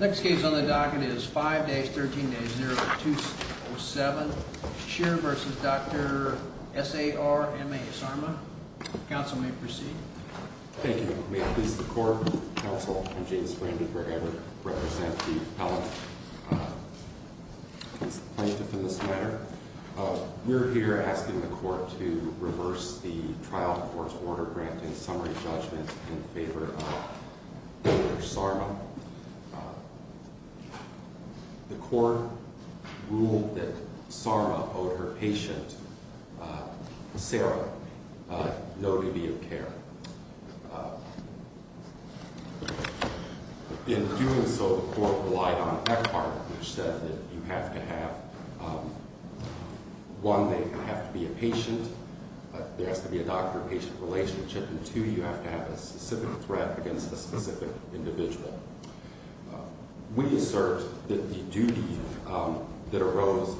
Next case on the docket is 5-13-0207 Shearer v. Dr. S.A.R.M.A. Sarma. Counsel may proceed. Thank you. May it please the court, counsel, I'm James Brandenburg. I represent the appellate plaintiff in this matter. We're here asking the court to reverse the trial court's order granting summary judgment in favor of Sarma. The court ruled that Sarma owed her patient, Sarah, no duty of care. In doing so, the court relied on Eckhardt, which said that you have to have, one, they have to be a patient. There has to be a doctor-patient relationship, and two, you have to have a specific threat against a specific individual. We assert that the duty that arose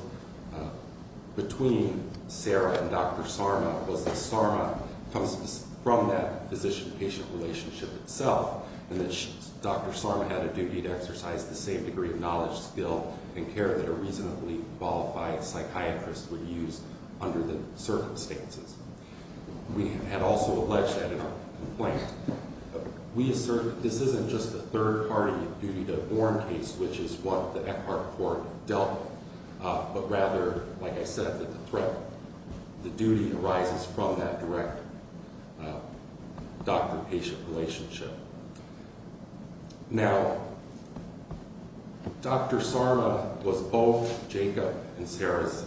between Sarah and Dr. Sarma was that Sarma comes from that physician-patient relationship itself, and that Dr. Sarma had a duty to exercise the same degree of knowledge, skill, and care that a reasonably qualified psychiatrist would use under the circumstances. We have also alleged that in our complaint. We assert that this isn't just a third-party duty to warn case, which is what the Eckhardt court dealt with, but rather, like I said, that the threat, the duty arises from that direct doctor-patient relationship. Now, Dr. Sarma was both Jacob and Sarah's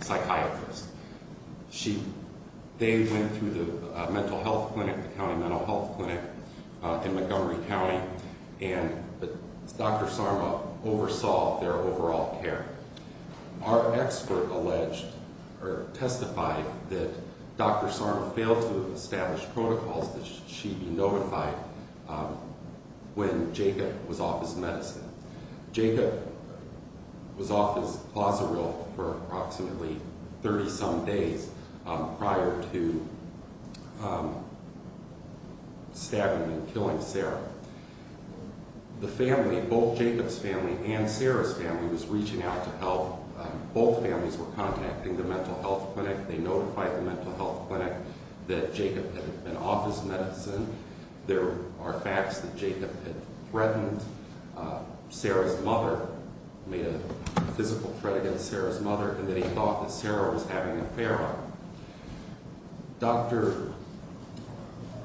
psychiatrist. They went through the mental health clinic, the county mental health clinic in Montgomery County, and Dr. Sarma oversaw their overall care. Our expert alleged, or testified, that Dr. Sarma failed to establish protocols that she be notified when Jacob was off his medicine. Jacob was off his Plazeril for approximately 30-some days prior to stabbing and killing Sarah. The family, both Jacob's family and Sarah's family, was reaching out to help. Both families were contacting the mental health clinic. They notified the mental health clinic that Jacob had been off his medicine. There are facts that Jacob had threatened Sarah's mother, made a physical threat against Sarah's mother, and that he thought that Sarah was having an affair.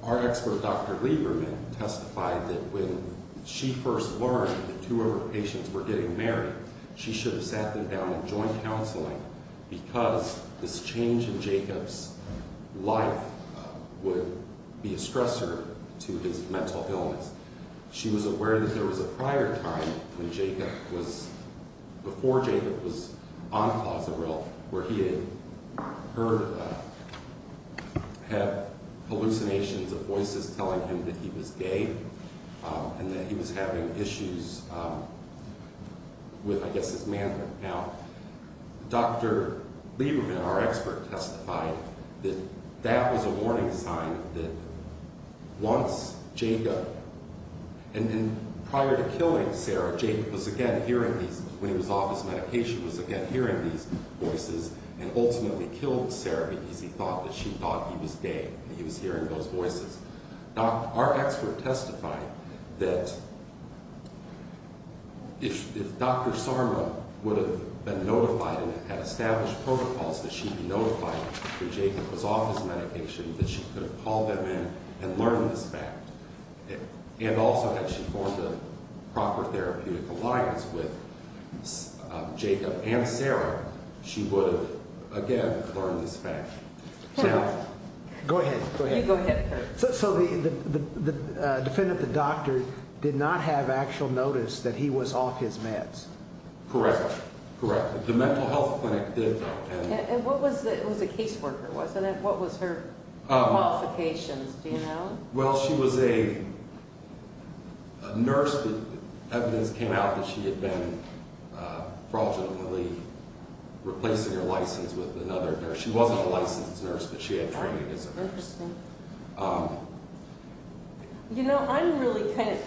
Our expert, Dr. Lieberman, testified that when she first learned that two of her patients were getting married, she should have sat them down in joint counseling because this change in Jacob's life would be a stressor to his mental illness. She was aware that there was a prior time before Jacob was on Plazeril where he had heard hallucinations of voices telling him that he was gay and that he was having issues with, I guess, his manhood. Now, Dr. Lieberman, our expert, testified that that was a warning sign that once Jacob, and prior to killing Sarah, when he was off his medication, Jacob was again hearing these voices and ultimately killed Sarah because he thought that she thought he was gay and he was hearing those voices. Our expert testified that if Dr. Sarma would have been notified and had established protocols that she would be notified when Jacob was off his medication, that she could have called them in and learned this fact. And also, had she formed a proper therapeutic alliance with Jacob and Sarah, she would have, again, learned this fact. Go ahead, go ahead. You go ahead. So the defendant, the doctor, did not have actual notice that he was off his meds? Correct, correct. The mental health clinic did not. And what was the, it was a caseworker, wasn't it? What was her qualifications, do you know? Well, she was a nurse. Evidence came out that she had been fraudulently replacing her license with another nurse. She wasn't a licensed nurse, but she had training as a nurse. Interesting. You know, I'm really kind of,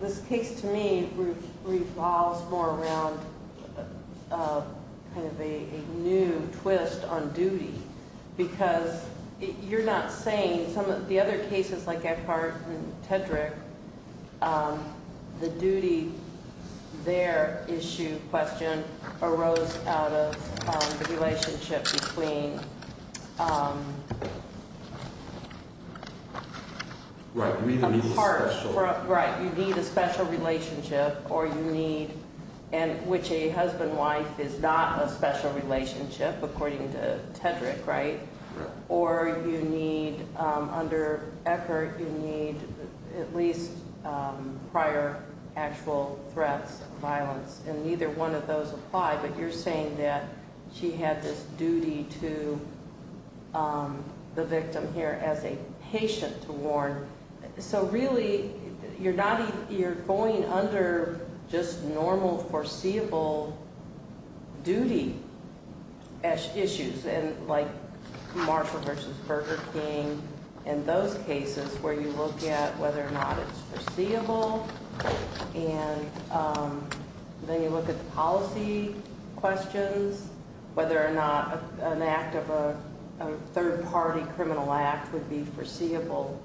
this case to me revolves more around kind of a new twist on duty because you're not saying, in some of the other cases like Ephardt and Tedrick, the duty there issue question arose out of the relationship between a part. Right, you need a special relationship. Right, you need a special relationship, or you need, which a husband-wife is not a special relationship, according to Tedrick, right? Right. Or you need, under Ephardt, you need at least prior actual threats of violence, and neither one of those apply, but you're saying that she had this duty to the victim here as a patient to warn. So really, you're going under just normal foreseeable duty issues, like Marshall v. Burger King and those cases where you look at whether or not it's foreseeable, and then you look at the policy questions, whether or not an act of a third-party criminal act would be foreseeable.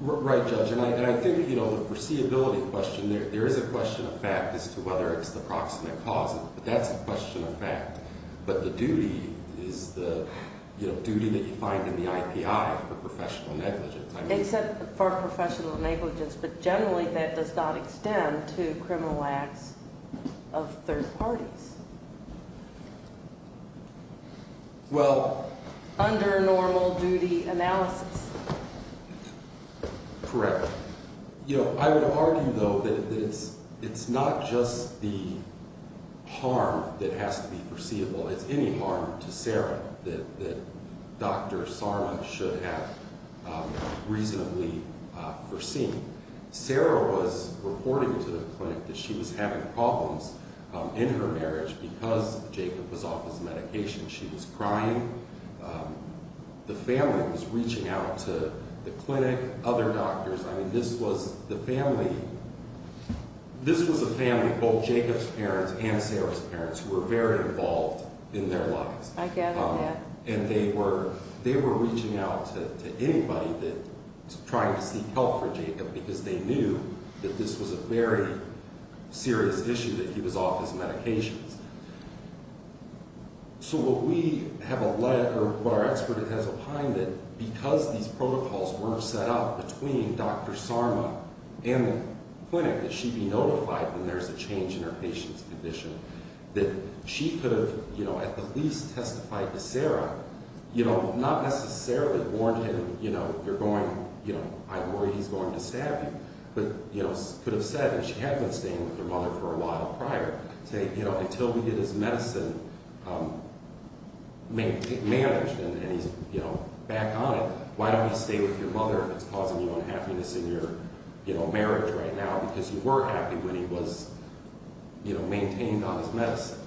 Right, Judge, and I think, you know, the foreseeability question, there is a question of fact as to whether it's the proximate cause, but that's a question of fact, but the duty is the, you know, duty that you find in the IPI for professional negligence. Except for professional negligence, but generally that does not extend to criminal acts of third parties. Well. Under normal duty analysis. Correct. You know, I would argue, though, that it's not just the harm that has to be foreseeable, it's any harm to Sarah that Dr. Sarna should have reasonably foreseen. Sarah was reporting to the clinic that she was having problems in her marriage because Jacob was off his medication. She was crying. The family was reaching out to the clinic, other doctors. I mean, this was the family, this was a family, both Jacob's parents and Sarah's parents, who were very involved in their lives. I gather, yeah. And they were reaching out to anybody that was trying to seek help for Jacob because they knew that this was a very serious issue, that he was off his medications. So what we have, or what our expert has opined that because these protocols were set up between Dr. Sarna and the clinic, that she be notified when there's a change in her patient's condition, that she could have, you know, at the least testified to Sarah, you know, not necessarily warned him, you know, you're going, you know, I'm worried he's going to stab you, but, you know, could have said that she had been staying with her mother for a while prior. Say, you know, until we get his medicine managed and he's, you know, back on it, why don't you stay with your mother if it's causing you unhappiness in your, you know, marriage right now because you were happy when he was, you know, maintained on his medicine.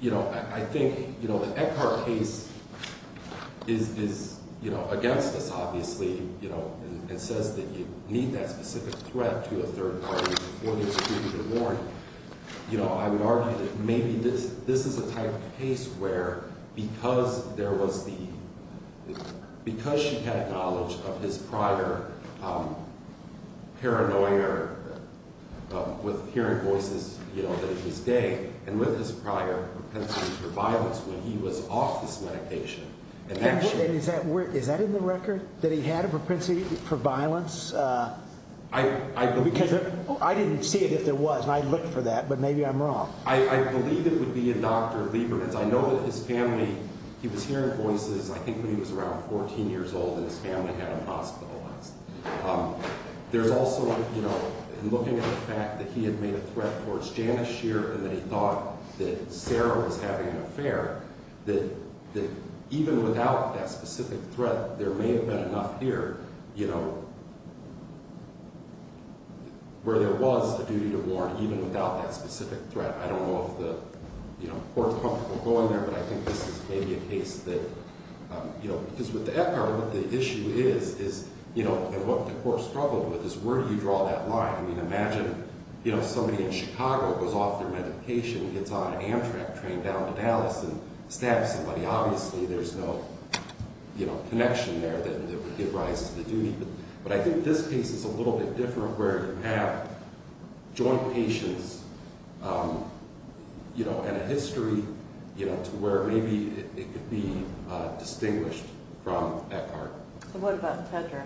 You know, I think, you know, the Eckhart case is, you know, against us, obviously, you know, and says that you need that specific threat to a third party before you can be warned. You know, I would argue that maybe this is a type of case where because there was the, because she had knowledge of his prior paranoia with hearing voices, you know, that he was gay, and with his prior propensity for violence when he was off his medication. And is that in the record that he had a propensity for violence? Because I didn't see it if there was, and I looked for that, but maybe I'm wrong. I believe it would be in Dr. Lieberman's. I know that his family, he was hearing voices, I think, when he was around 14 years old, and his family had him hospitalized. There's also, you know, in looking at the fact that he had made a threat towards Janice Shearer and that he thought that Sarah was having an affair, that even without that specific threat, there may have been enough here, you know, where there was a duty to warn, even without that specific threat. I don't know if the court is comfortable going there, but I think this is maybe a case that, you know, because with the Epcot, what the issue is, is, you know, and what the court struggled with, is where do you draw that line? I mean, imagine, you know, somebody in Chicago goes off their medication, gets on an Amtrak train down to Dallas and stabs somebody. Obviously, there's no, you know, connection there that would give rise to the duty. But I think this case is a little bit different where you have joint patients, you know, and a history, you know, to where maybe it could be distinguished from Epcot. So what about Tedra?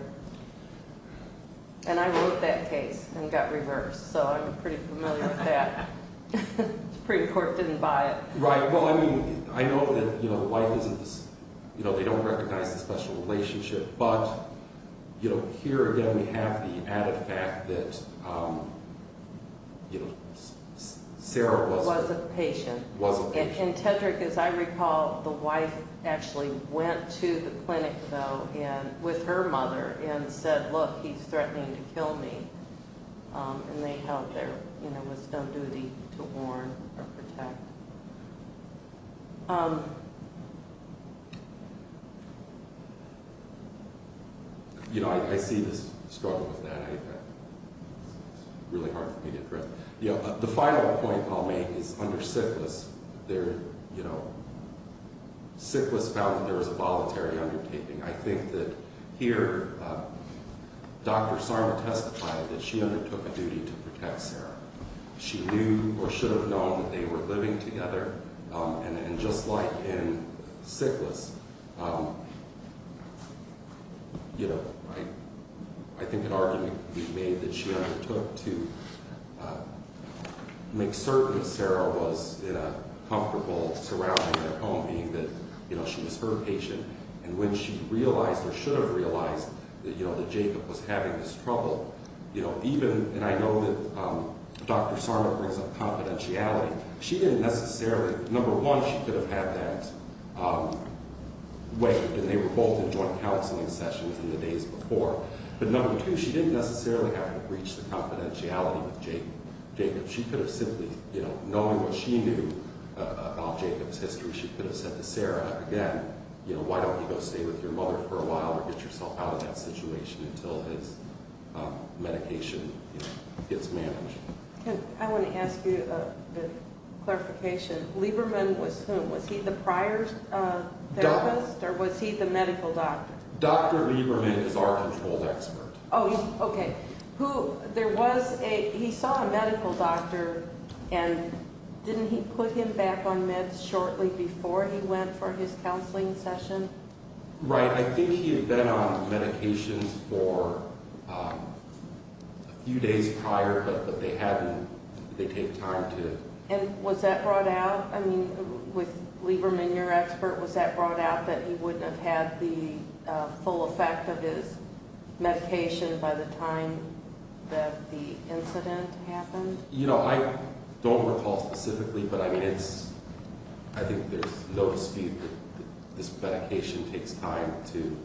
And I wrote that case and got reversed, so I'm pretty familiar with that. The Supreme Court didn't buy it. Right. Well, I mean, I know that, you know, life isn't this, you know, they don't recognize the special relationship. But, you know, here again we have the added fact that, you know, Sarah was a patient. Was a patient. And Tedra, as I recall, the wife actually went to the clinic, though, with her mother, and said, look, he's threatening to kill me. And they held her, you know, with no duty to warn or protect. You know, I see this struggle with that. It's really hard for me to address. You know, the final point I'll make is under Sitlis, there, you know, Sitlis found that there was a voluntary undertaking. I think that here Dr. Sarna testified that she undertook a duty to protect Sarah. She knew or should have known that they were living together. And just like in Sitlis, you know, I think an argument could be made that she undertook to make certain Sarah was in a comfortable surrounding at home, meaning that, you know, she was her patient. And when she realized or should have realized that, you know, that Jacob was having this trouble, you know, even, and I know that Dr. Sarna brings up confidentiality. She didn't necessarily, number one, she could have had that waived, and they were both in joint counseling sessions in the days before. But number two, she didn't necessarily have to breach the confidentiality with Jacob. She could have simply, you know, knowing what she knew about Jacob's history, she could have said to Sarah, again, you know, why don't you go stay with your mother for a while or get yourself out of that situation until his medication gets managed. I want to ask you a clarification. Lieberman was whom? Was he the prior therapist or was he the medical doctor? Dr. Lieberman is our controlled expert. Oh, okay. There was a, he saw a medical doctor, and didn't he put him back on meds shortly before he went for his counseling session? Right. I think he had been on medications for a few days prior, but they hadn't, they take time to. And was that brought out? I mean, with Lieberman, your expert, was that brought out that he wouldn't have had the full effect of his medication by the time that the incident happened? You know, I don't recall specifically, but I mean it's, I think there's no dispute that this medication takes time to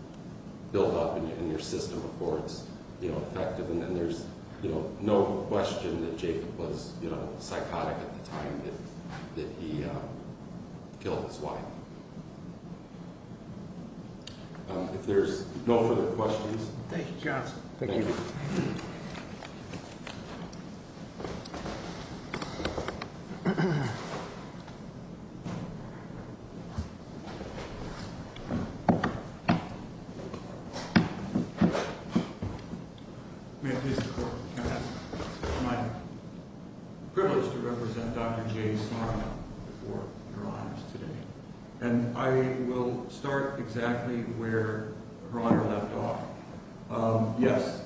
build up in your system before it's, you know, effective. And there's, you know, no question that Jacob was, you know, psychotic at the time that he killed his wife. If there's no further questions. Thank you, counsel. Thank you. May I please support the case? It's my privilege to represent Dr. J. Sarna for her honors today. And I will start exactly where her honor left off. Yes,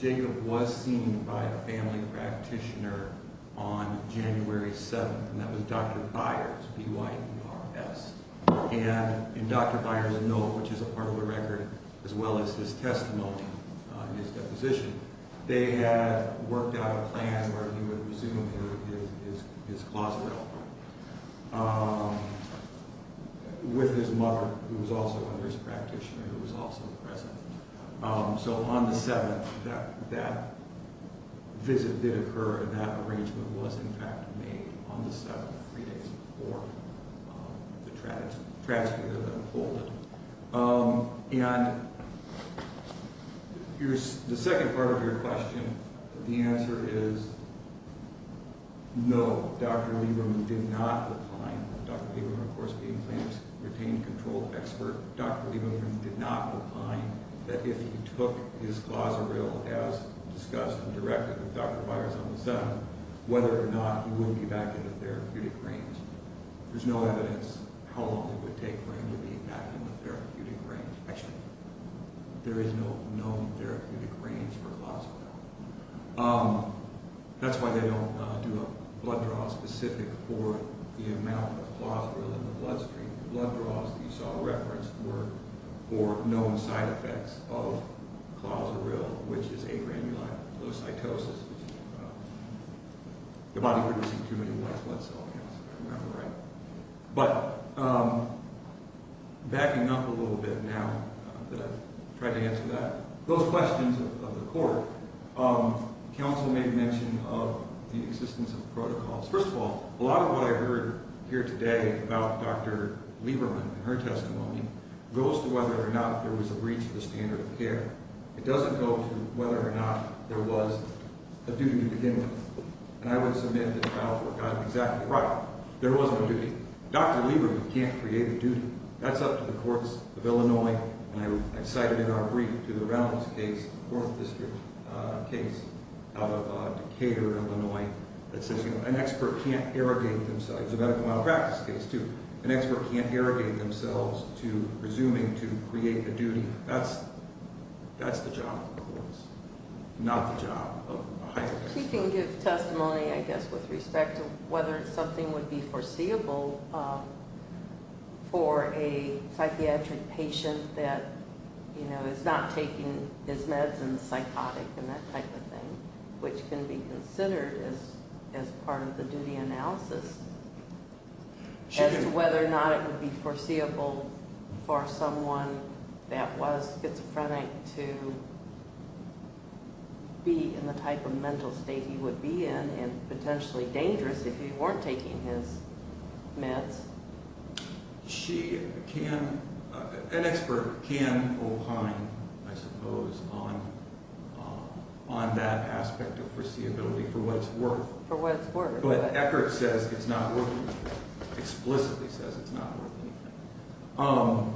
Jacob was seen by a family practitioner on January 7th, and that was Dr. Byers, B-Y-E-R-S. And in Dr. Byers' note, which is a part of the record, as well as his testimony in his deposition, they had worked out a plan where he would resume his glossary with his mother, who was also a nurse practitioner, who was also present. So on the 7th, that visit did occur, that arrangement was, in fact, made on the 7th, three days before the tragedy that unfolded. And the second part of your question, the answer is no. Dr. Lieberman did not recline. Dr. Lieberman, of course, being a famous retained control expert, Dr. Lieberman did not recline. There's no evidence how long it would take for him to be back in the therapeutic range. Actually, there is no known therapeutic range for glossary. That's why they don't do a blood draw specific for the amount of glossary in the bloodstream. The blood draws that you saw referenced were for known side effects of Clauseril, which is a granulocytosis, which is the body producing too many white blood cells, if I remember right. But backing up a little bit now that I've tried to answer that, those questions of the court, counsel made mention of the existence of protocols. First of all, a lot of what I heard here today about Dr. Lieberman and her testimony goes to whether or not there was a breach of the standard of care. It doesn't go to whether or not there was a duty to begin with. And I would submit that trial court got it exactly right. There was no duty. Dr. Lieberman can't create a duty. That's up to the courts of Illinois. And I cited in our brief to the Reynolds case, fourth district case out of Decatur, Illinois, that says an expert can't irrigate themselves. It's a medical malpractice case, too. An expert can't irrigate themselves to presuming to create a duty. That's the job of the courts, not the job of a high-level expert. She can give testimony, I guess, with respect to whether something would be foreseeable for a psychiatric patient that is not taking his meds and is psychotic and that type of thing, which can be considered as part of the duty analysis as to whether or not it would be foreseeable for someone that was schizophrenic to be in the type of mental state he would be in and potentially dangerous if he weren't taking his meds. An expert can opine, I suppose, on that aspect of foreseeability for what it's worth. For what it's worth. But Eckert says it's not worth anything, explicitly says it's not worth anything.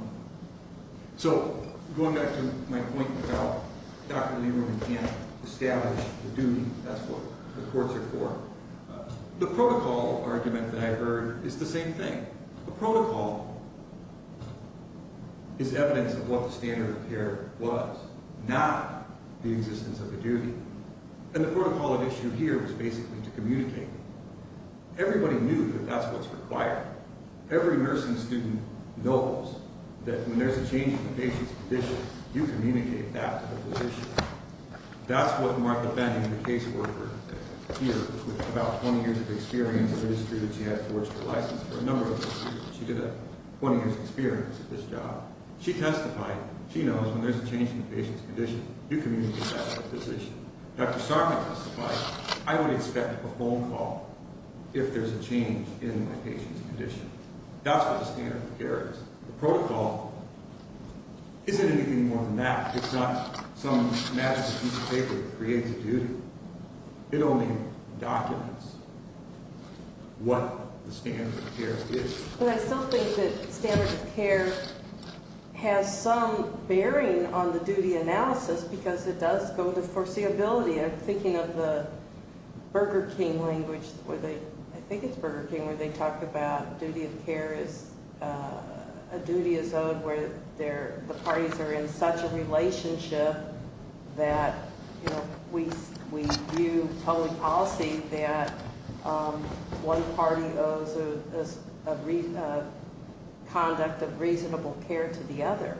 So going back to my point about Dr. Lieberman can't establish the duty, that's what the courts are for. The protocol argument that I've heard is the same thing. The protocol is evidence of what the standard of care was, not the existence of a duty. And the protocol at issue here is basically to communicate it. Everybody knew that that's what's required. Every nursing student knows that when there's a change in a patient's condition, you communicate that to the physician. That's what Martha Benning, the caseworker here, with about 20 years of experience in the industry that she had, forged her license for a number of years. She did a 20-year experience at this job. She testified, she knows when there's a change in a patient's condition, you communicate that to the physician. Dr. Sargent testified, I would expect a phone call if there's a change in a patient's condition. That's what the standard of care is. The protocol isn't anything more than that. It's not some massive piece of paper that creates a duty. It only documents what the standard of care is. But I still think that standard of care has some bearing on the duty analysis because it does go to foreseeability. I'm thinking of the Burger King language, I think it's Burger King, where they talk about a duty is owed where the parties are in such a relationship that we view public policy that one party owes a conduct of reasonable care to the other.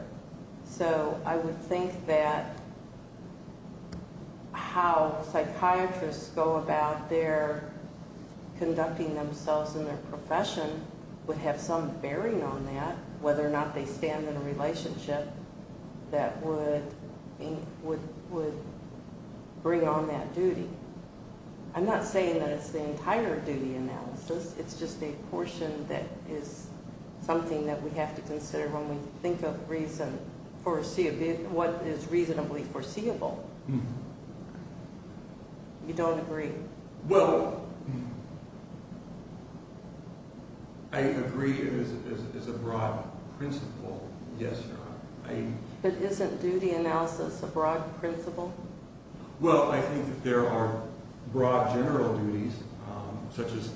So I would think that how psychiatrists go about their conducting themselves in their profession would have some bearing on that, whether or not they stand in a relationship that would bring on that duty. I'm not saying that it's the entire duty analysis. It's just a portion that is something that we have to consider when we think of what is reasonably foreseeable. You don't agree? Well, I agree it is a broad principle, yes, Your Honor. But isn't duty analysis a broad principle? Well, I think that there are broad general duties, such as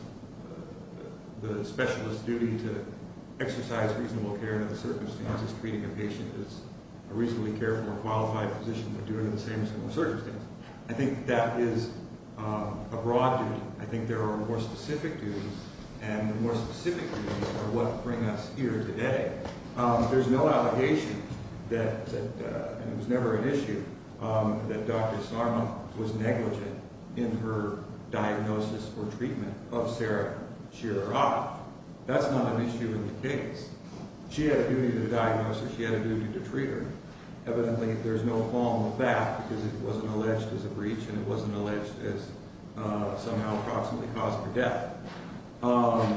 the specialist's duty to exercise reasonable care under the circumstances treating a patient as a reasonably careful or qualified physician, but doing it under the same circumstances. I think that is a broad duty. I think there are more specific duties, and the more specific duties are what bring us here today. There's no allegation that, and it was never an issue, that Dr. Sarma was negligent in her diagnosis or treatment of Sarah Shirer-Ott. That's not an issue in the case. She had a duty to diagnose her. She had a duty to treat her. Evidently, there's no qualm with that because it wasn't alleged as a breach, and it wasn't alleged as somehow approximately cause for death. But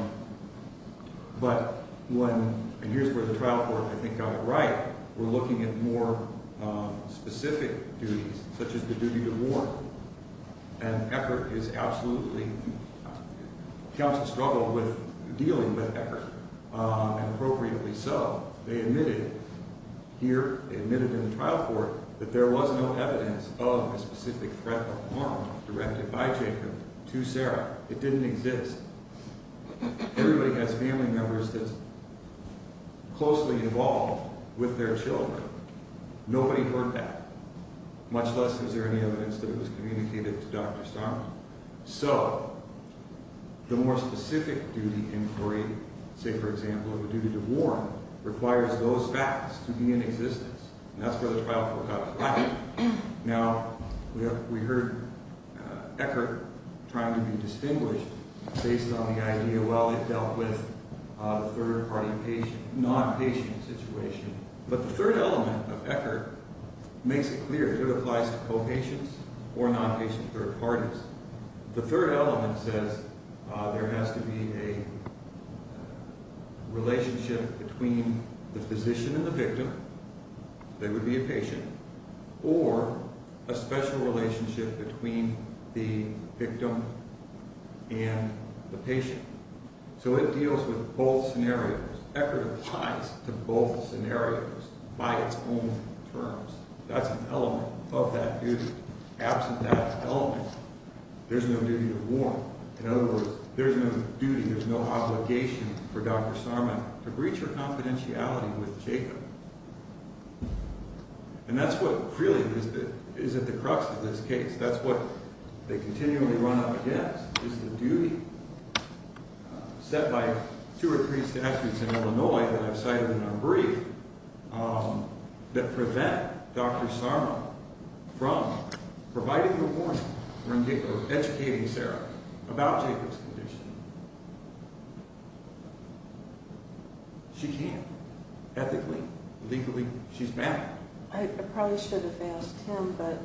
when – and here's where the trial court, I think, got it right. We're looking at more specific duties, such as the duty to warn. And Eckert is absolutely – counsel struggled with dealing with Eckert, and appropriately so. They admitted here, they admitted in the trial court, that there was no evidence of a specific threat of harm directed by Jacob to Sarah. It didn't exist. Everybody has family members that's closely involved with their children. Nobody heard that, much less is there any evidence that it was communicated to Dr. Sarma. So the more specific duty inquiry, say, for example, of a duty to warn, requires those facts to be in existence, and that's where the trial court got it right. Now, we heard Eckert trying to be distinguished based on the idea, well, it dealt with a third-party nonpatient situation. But the third element of Eckert makes it clear that it applies to co-patients or nonpatient third parties. The third element says there has to be a relationship between the physician and the victim. They would be a patient, or a special relationship between the victim and the patient. So it deals with both scenarios. Eckert applies to both scenarios by its own terms. That's an element of that duty. Absent that element, there's no duty to warn. In other words, there's no duty, there's no obligation for Dr. Sarma to breach her confidentiality with Jacob. And that's what really is at the crux of this case. That's what they continually run up against is the duty set by two or three statutes in Illinois that I've cited in our brief that prevent Dr. Sarma from providing a warning or educating Sarah about Jacob's condition. She can't. Ethically, legally, she's banned. I probably should have asked Tim, but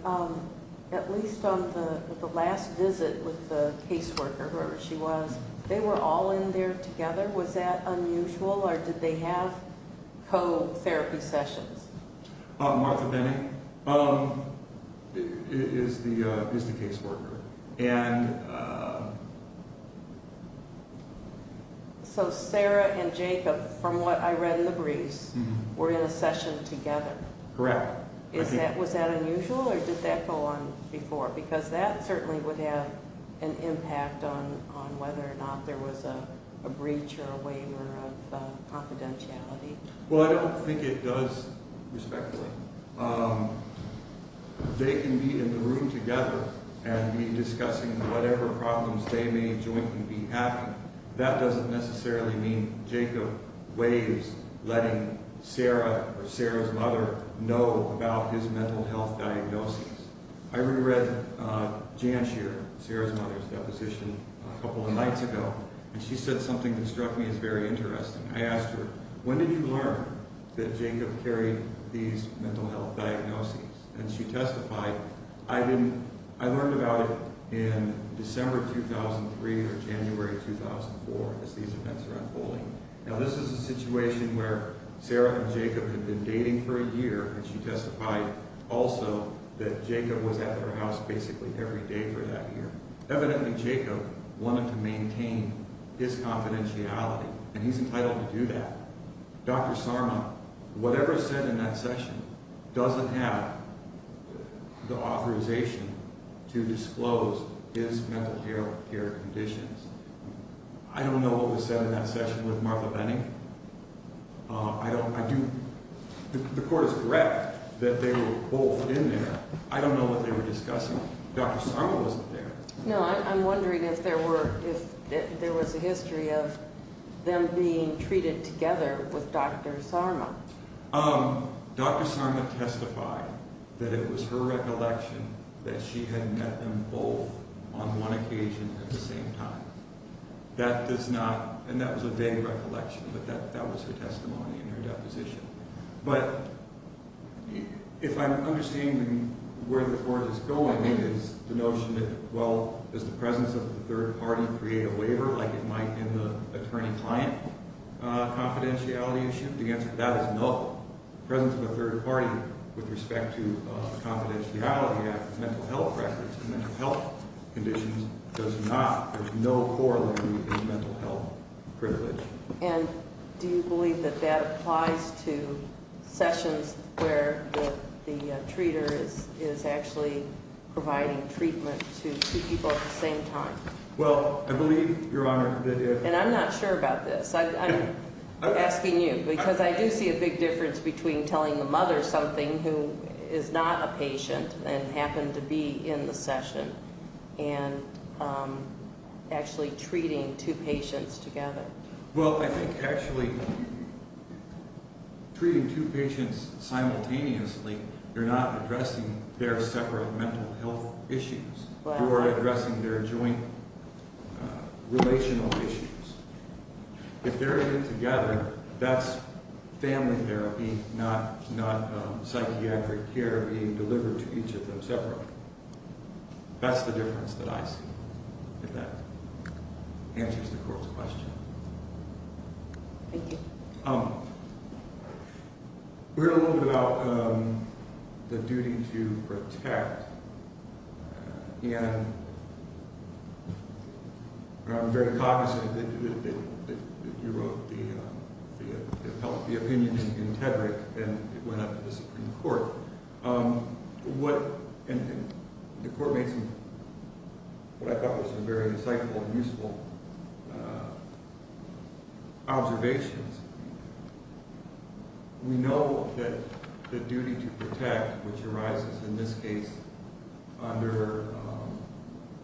at least on the last visit with the caseworker, whoever she was, they were all in there together. Was that unusual, or did they have co-therapy sessions? Martha Benny is the caseworker. So Sarah and Jacob, from what I read in the briefs, were in a session together. Correct. Was that unusual, or did that go on before? Because that certainly would have an impact on whether or not there was a breach or a waiver of confidentiality. They can be in the room together and be discussing whatever problems they may jointly be having. That doesn't necessarily mean Jacob waives letting Sarah or Sarah's mother know about his mental health diagnosis. I reread Jan Shearer, Sarah's mother's deposition, a couple of nights ago, and she said something that struck me as very interesting. I asked her, when did you learn that Jacob carried these mental health diagnoses? And she testified, I learned about it in December 2003 or January 2004, as these events are unfolding. Now this is a situation where Sarah and Jacob had been dating for a year, and she testified also that Jacob was at their house basically every day for that year. Evidently, Jacob wanted to maintain his confidentiality. And he's entitled to do that. Dr. Sarma, whatever is said in that session, doesn't have the authorization to disclose his mental health care conditions. I don't know what was said in that session with Martha Benning. I don't, I do, the court is correct that they were both in there. I don't know what they were discussing. Dr. Sarma wasn't there. No, I'm wondering if there were, if there was a history of them being treated together with Dr. Sarma. Dr. Sarma testified that it was her recollection that she had met them both on one occasion at the same time. That does not, and that was a vague recollection, but that was her testimony in her deposition. But if I'm understanding where the court is going, I think it's the notion that, well, does the presence of the third party create a waiver like it might in the attorney-client confidentiality issue? The answer to that is no. The presence of a third party with respect to a confidentiality act is mental health records. Mental health conditions does not, there's no corollary in mental health privilege. And do you believe that that applies to sessions where the treater is actually providing treatment to two people at the same time? Well, I believe, Your Honor, that it is. And I'm not sure about this. I'm asking you, because I do see a big difference between telling the mother something who is not a patient and happened to be in the session and actually treating two patients together. Well, I think actually treating two patients simultaneously, you're not addressing their separate mental health issues. You're addressing their joint relational issues. If they're in it together, that's family therapy, not psychiatric care being delivered to each of them separately. That's the difference that I see. If that answers the court's question. Thank you. We heard a little bit about the duty to protect. And I'm very cognizant that you wrote the opinion in Tedrick and it went up to the Supreme Court. The court made what I thought were some very insightful and useful observations. We know that the duty to protect, which arises in this case under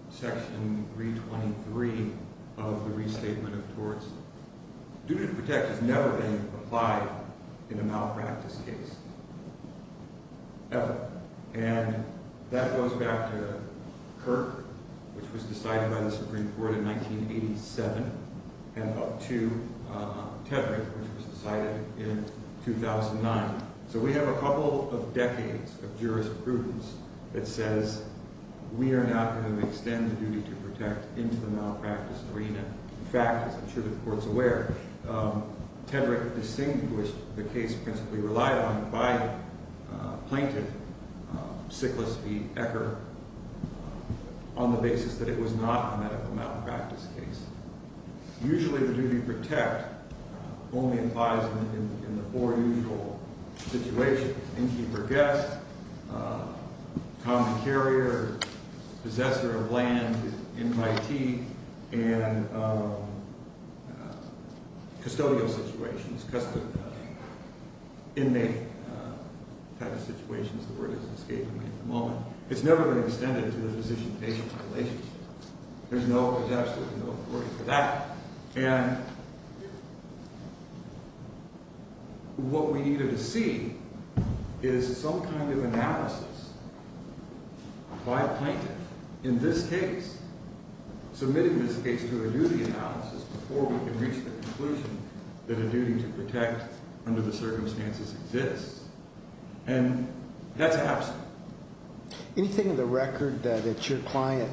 Section 323 of the Restatement of Torts, duty to protect has never been applied in a malpractice case, ever. And that goes back to Kirk, which was decided by the Supreme Court in 1987, and up to Tedrick, which was decided in 2009. So we have a couple of decades of jurisprudence that says we are not going to extend the duty to protect into the malpractice arena. In fact, as I'm sure the court's aware, Tedrick distinguished the case principally relied on by the plaintiff, Sickless v. Ecker, on the basis that it was not a medical malpractice case. Usually the duty to protect only applies in the four usual situations. Inmate, innkeeper, guest, common carrier, possessor of land, invitee, and custodial situations, custodial, inmate type of situations, the word is escaping me at the moment. It's never been extended to the physician-patient relationship. There's no, there's absolutely no authority for that. And what we needed to see is some kind of analysis by a plaintiff in this case, submitting this case to a duty analysis before we can reach the conclusion that a duty to protect under the circumstances exists. And that's absent. Anything in the record that your client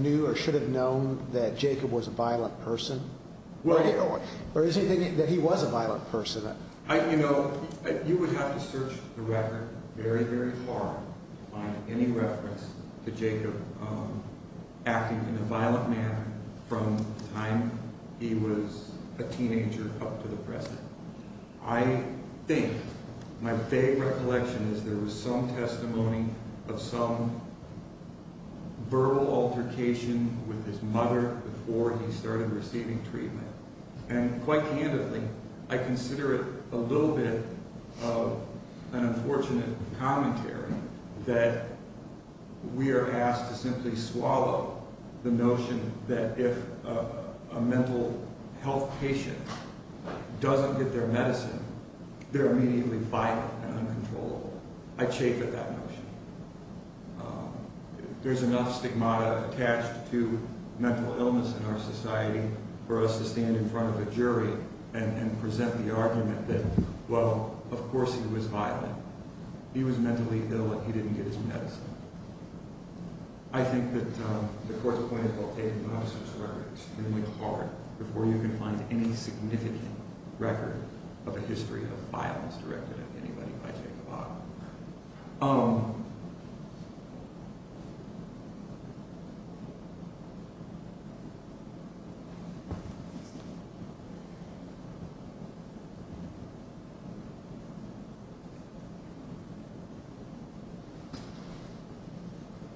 knew or should have known that Jacob was a violent person? Or is there anything that he was a violent person? You know, you would have to search the record very, very hard to find any reference to Jacob acting in a violent manner from the time he was a teenager up to the present. I think, my vague recollection is there was some testimony of some verbal altercation with his mother before he started receiving treatment. And quite candidly, I consider it a little bit of an unfortunate commentary that we are asked to simply swallow the notion that if a mental health patient doesn't get their medicine, they're immediately violent and uncontrollable. I chafe at that notion. There's enough stigmata attached to mental illness in our society for us to stand in front of a jury and present the argument that, well, of course he was violent. He was mentally ill and he didn't get his medicine. I think that the court's point about taking the officer's record is extremely hard before you can find any significant record of a history of violence directed at anybody by Jacob Ott.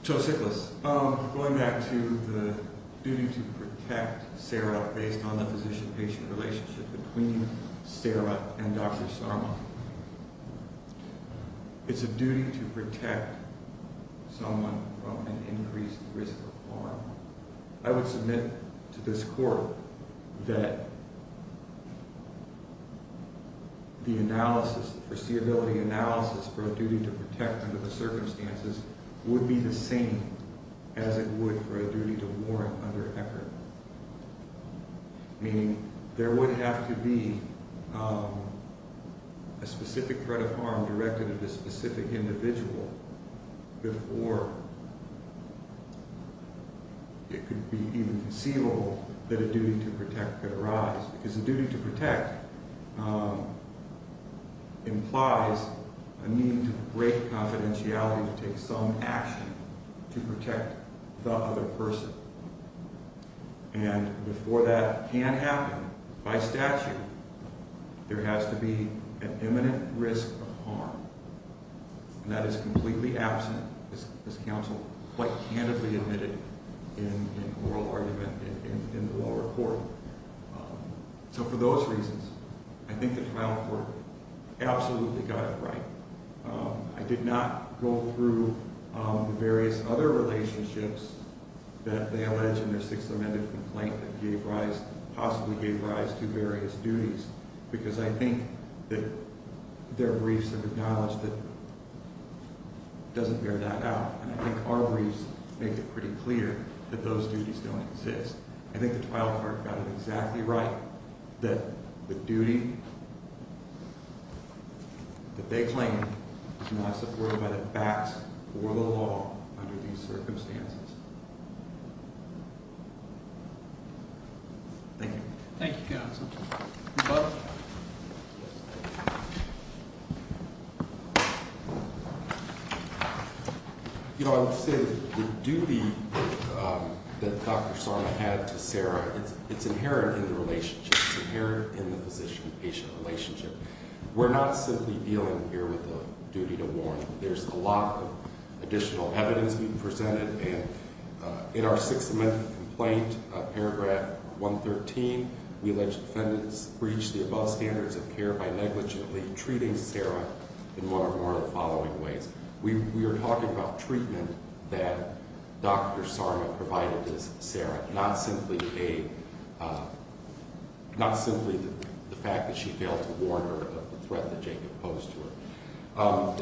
So, sick list. Going back to the duty to protect Sarah based on the physician-patient relationship between Sarah and Dr. Sarma. It's a duty to protect someone from an increased risk of harm. I would submit to this court that the foreseeability analysis for a duty to protect under the circumstances would be the same as it would for a duty to warrant under Eckert. Meaning there would have to be a specific threat of harm directed at a specific individual before it could be even conceivable that a duty to protect could arise. Because a duty to protect implies a need to break confidentiality to take some action to protect the other person. And before that can happen, by statute, there has to be an imminent risk of harm. And that is completely absent, as counsel quite candidly admitted in an oral argument in the lower court. So for those reasons, I think the trial court absolutely got it right. I did not go through the various other relationships that they allege in their Sixth Amendment complaint that gave rise, possibly gave rise, to various duties. Because I think that their briefs have acknowledged that it doesn't bear that out. And I think our briefs make it pretty clear that those duties don't exist. I think the trial court got it exactly right that the duty that they claim is not supported by the facts or the law under these circumstances. Thank you. Thank you, counsel. You're welcome. You know, I would say the duty that Dr. Sarna had to Sarah, it's inherent in the relationship. It's inherent in the physician-patient relationship. We're not simply dealing here with a duty to warn. There's a lot of additional evidence being presented. In our Sixth Amendment complaint, paragraph 113, we allege defendants breached the above standards of care by negligently treating Sarah in one or more of the following ways. We are talking about treatment that Dr. Sarna provided to Sarah, not simply the fact that she failed to warn her of the threat that Jacob posed to her.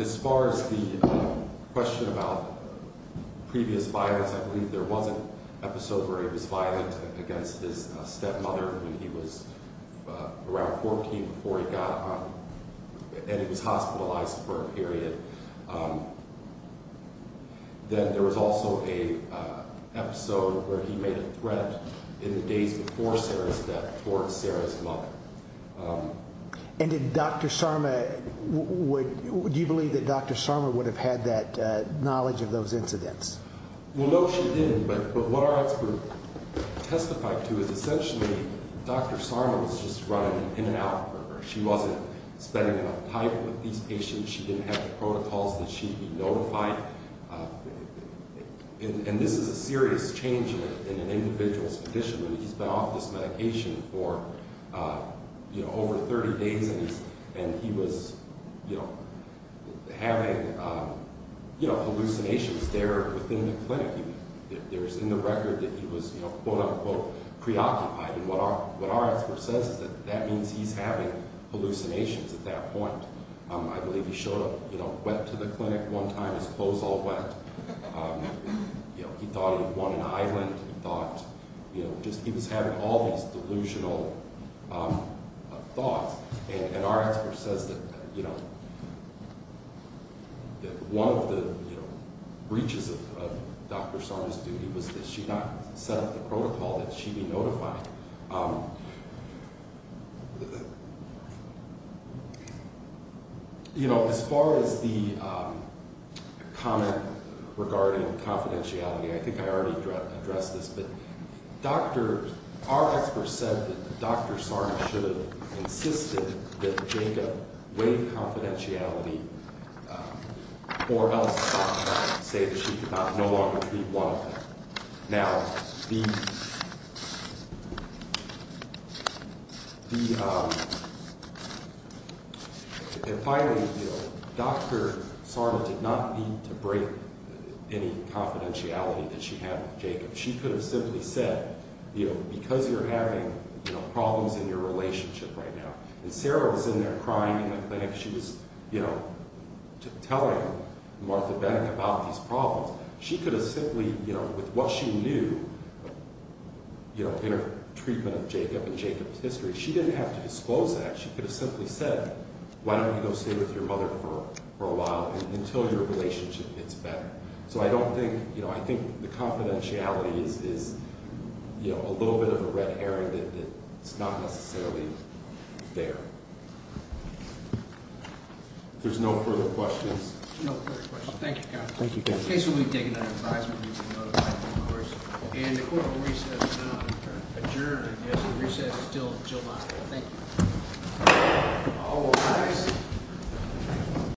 As far as the question about previous violence, I believe there was an episode where he was violent against his stepmother when he was around 14 before he got – and he was hospitalized for a period. Then there was also an episode where he made a threat in the days before Sarah's death towards Sarah's mother. And did Dr. Sarna – would – do you believe that Dr. Sarna would have had that knowledge of those incidents? Well, no, she didn't. But what our expert testified to is essentially Dr. Sarna was just running in and out of her. She wasn't spending enough time with these patients. She didn't have the protocols that she'd be notified. And this is a serious change in an individual's condition. He's been off this medication for, you know, over 30 days, and he was, you know, having, you know, hallucinations there within the clinic. There's in the record that he was, you know, quote, unquote, preoccupied. And what our expert says is that that means he's having hallucinations at that point. I believe he showed up, you know, wet to the clinic one time, his clothes all wet. You know, he thought he had won an island. He thought, you know, just he was having all these delusional thoughts. And our expert says that, you know, that one of the, you know, breaches of Dr. Sarna's duty was that she not set up the protocol that she'd be notified. You know, as far as the comment regarding confidentiality, I think I already addressed this. But Dr. – our expert said that Dr. Sarna should have insisted that Jacob waive confidentiality or else stop that, say that she could no longer treat one of them. Now, the – and finally, you know, Dr. Sarna did not need to break any confidentiality that she had with Jacob. She could have simply said, you know, because you're having, you know, problems in your relationship right now. And Sarah was in there crying in the clinic. She was, you know, telling Martha Beck about these problems. She could have simply, you know, with what she knew, you know, in her treatment of Jacob and Jacob's history, she didn't have to disclose that. She could have simply said, why don't you go stay with your mother for a while until your relationship gets better. So I don't think – you know, I think the confidentiality is, you know, a little bit of a red herring that it's not necessarily there. If there's no further questions. No further questions. Thank you, counsel. Thank you, counsel. Okay, so we've taken that advisement. You've been notified, of course. And the court will recess, adjourn, I guess. The recess is still July. Thank you. All rise.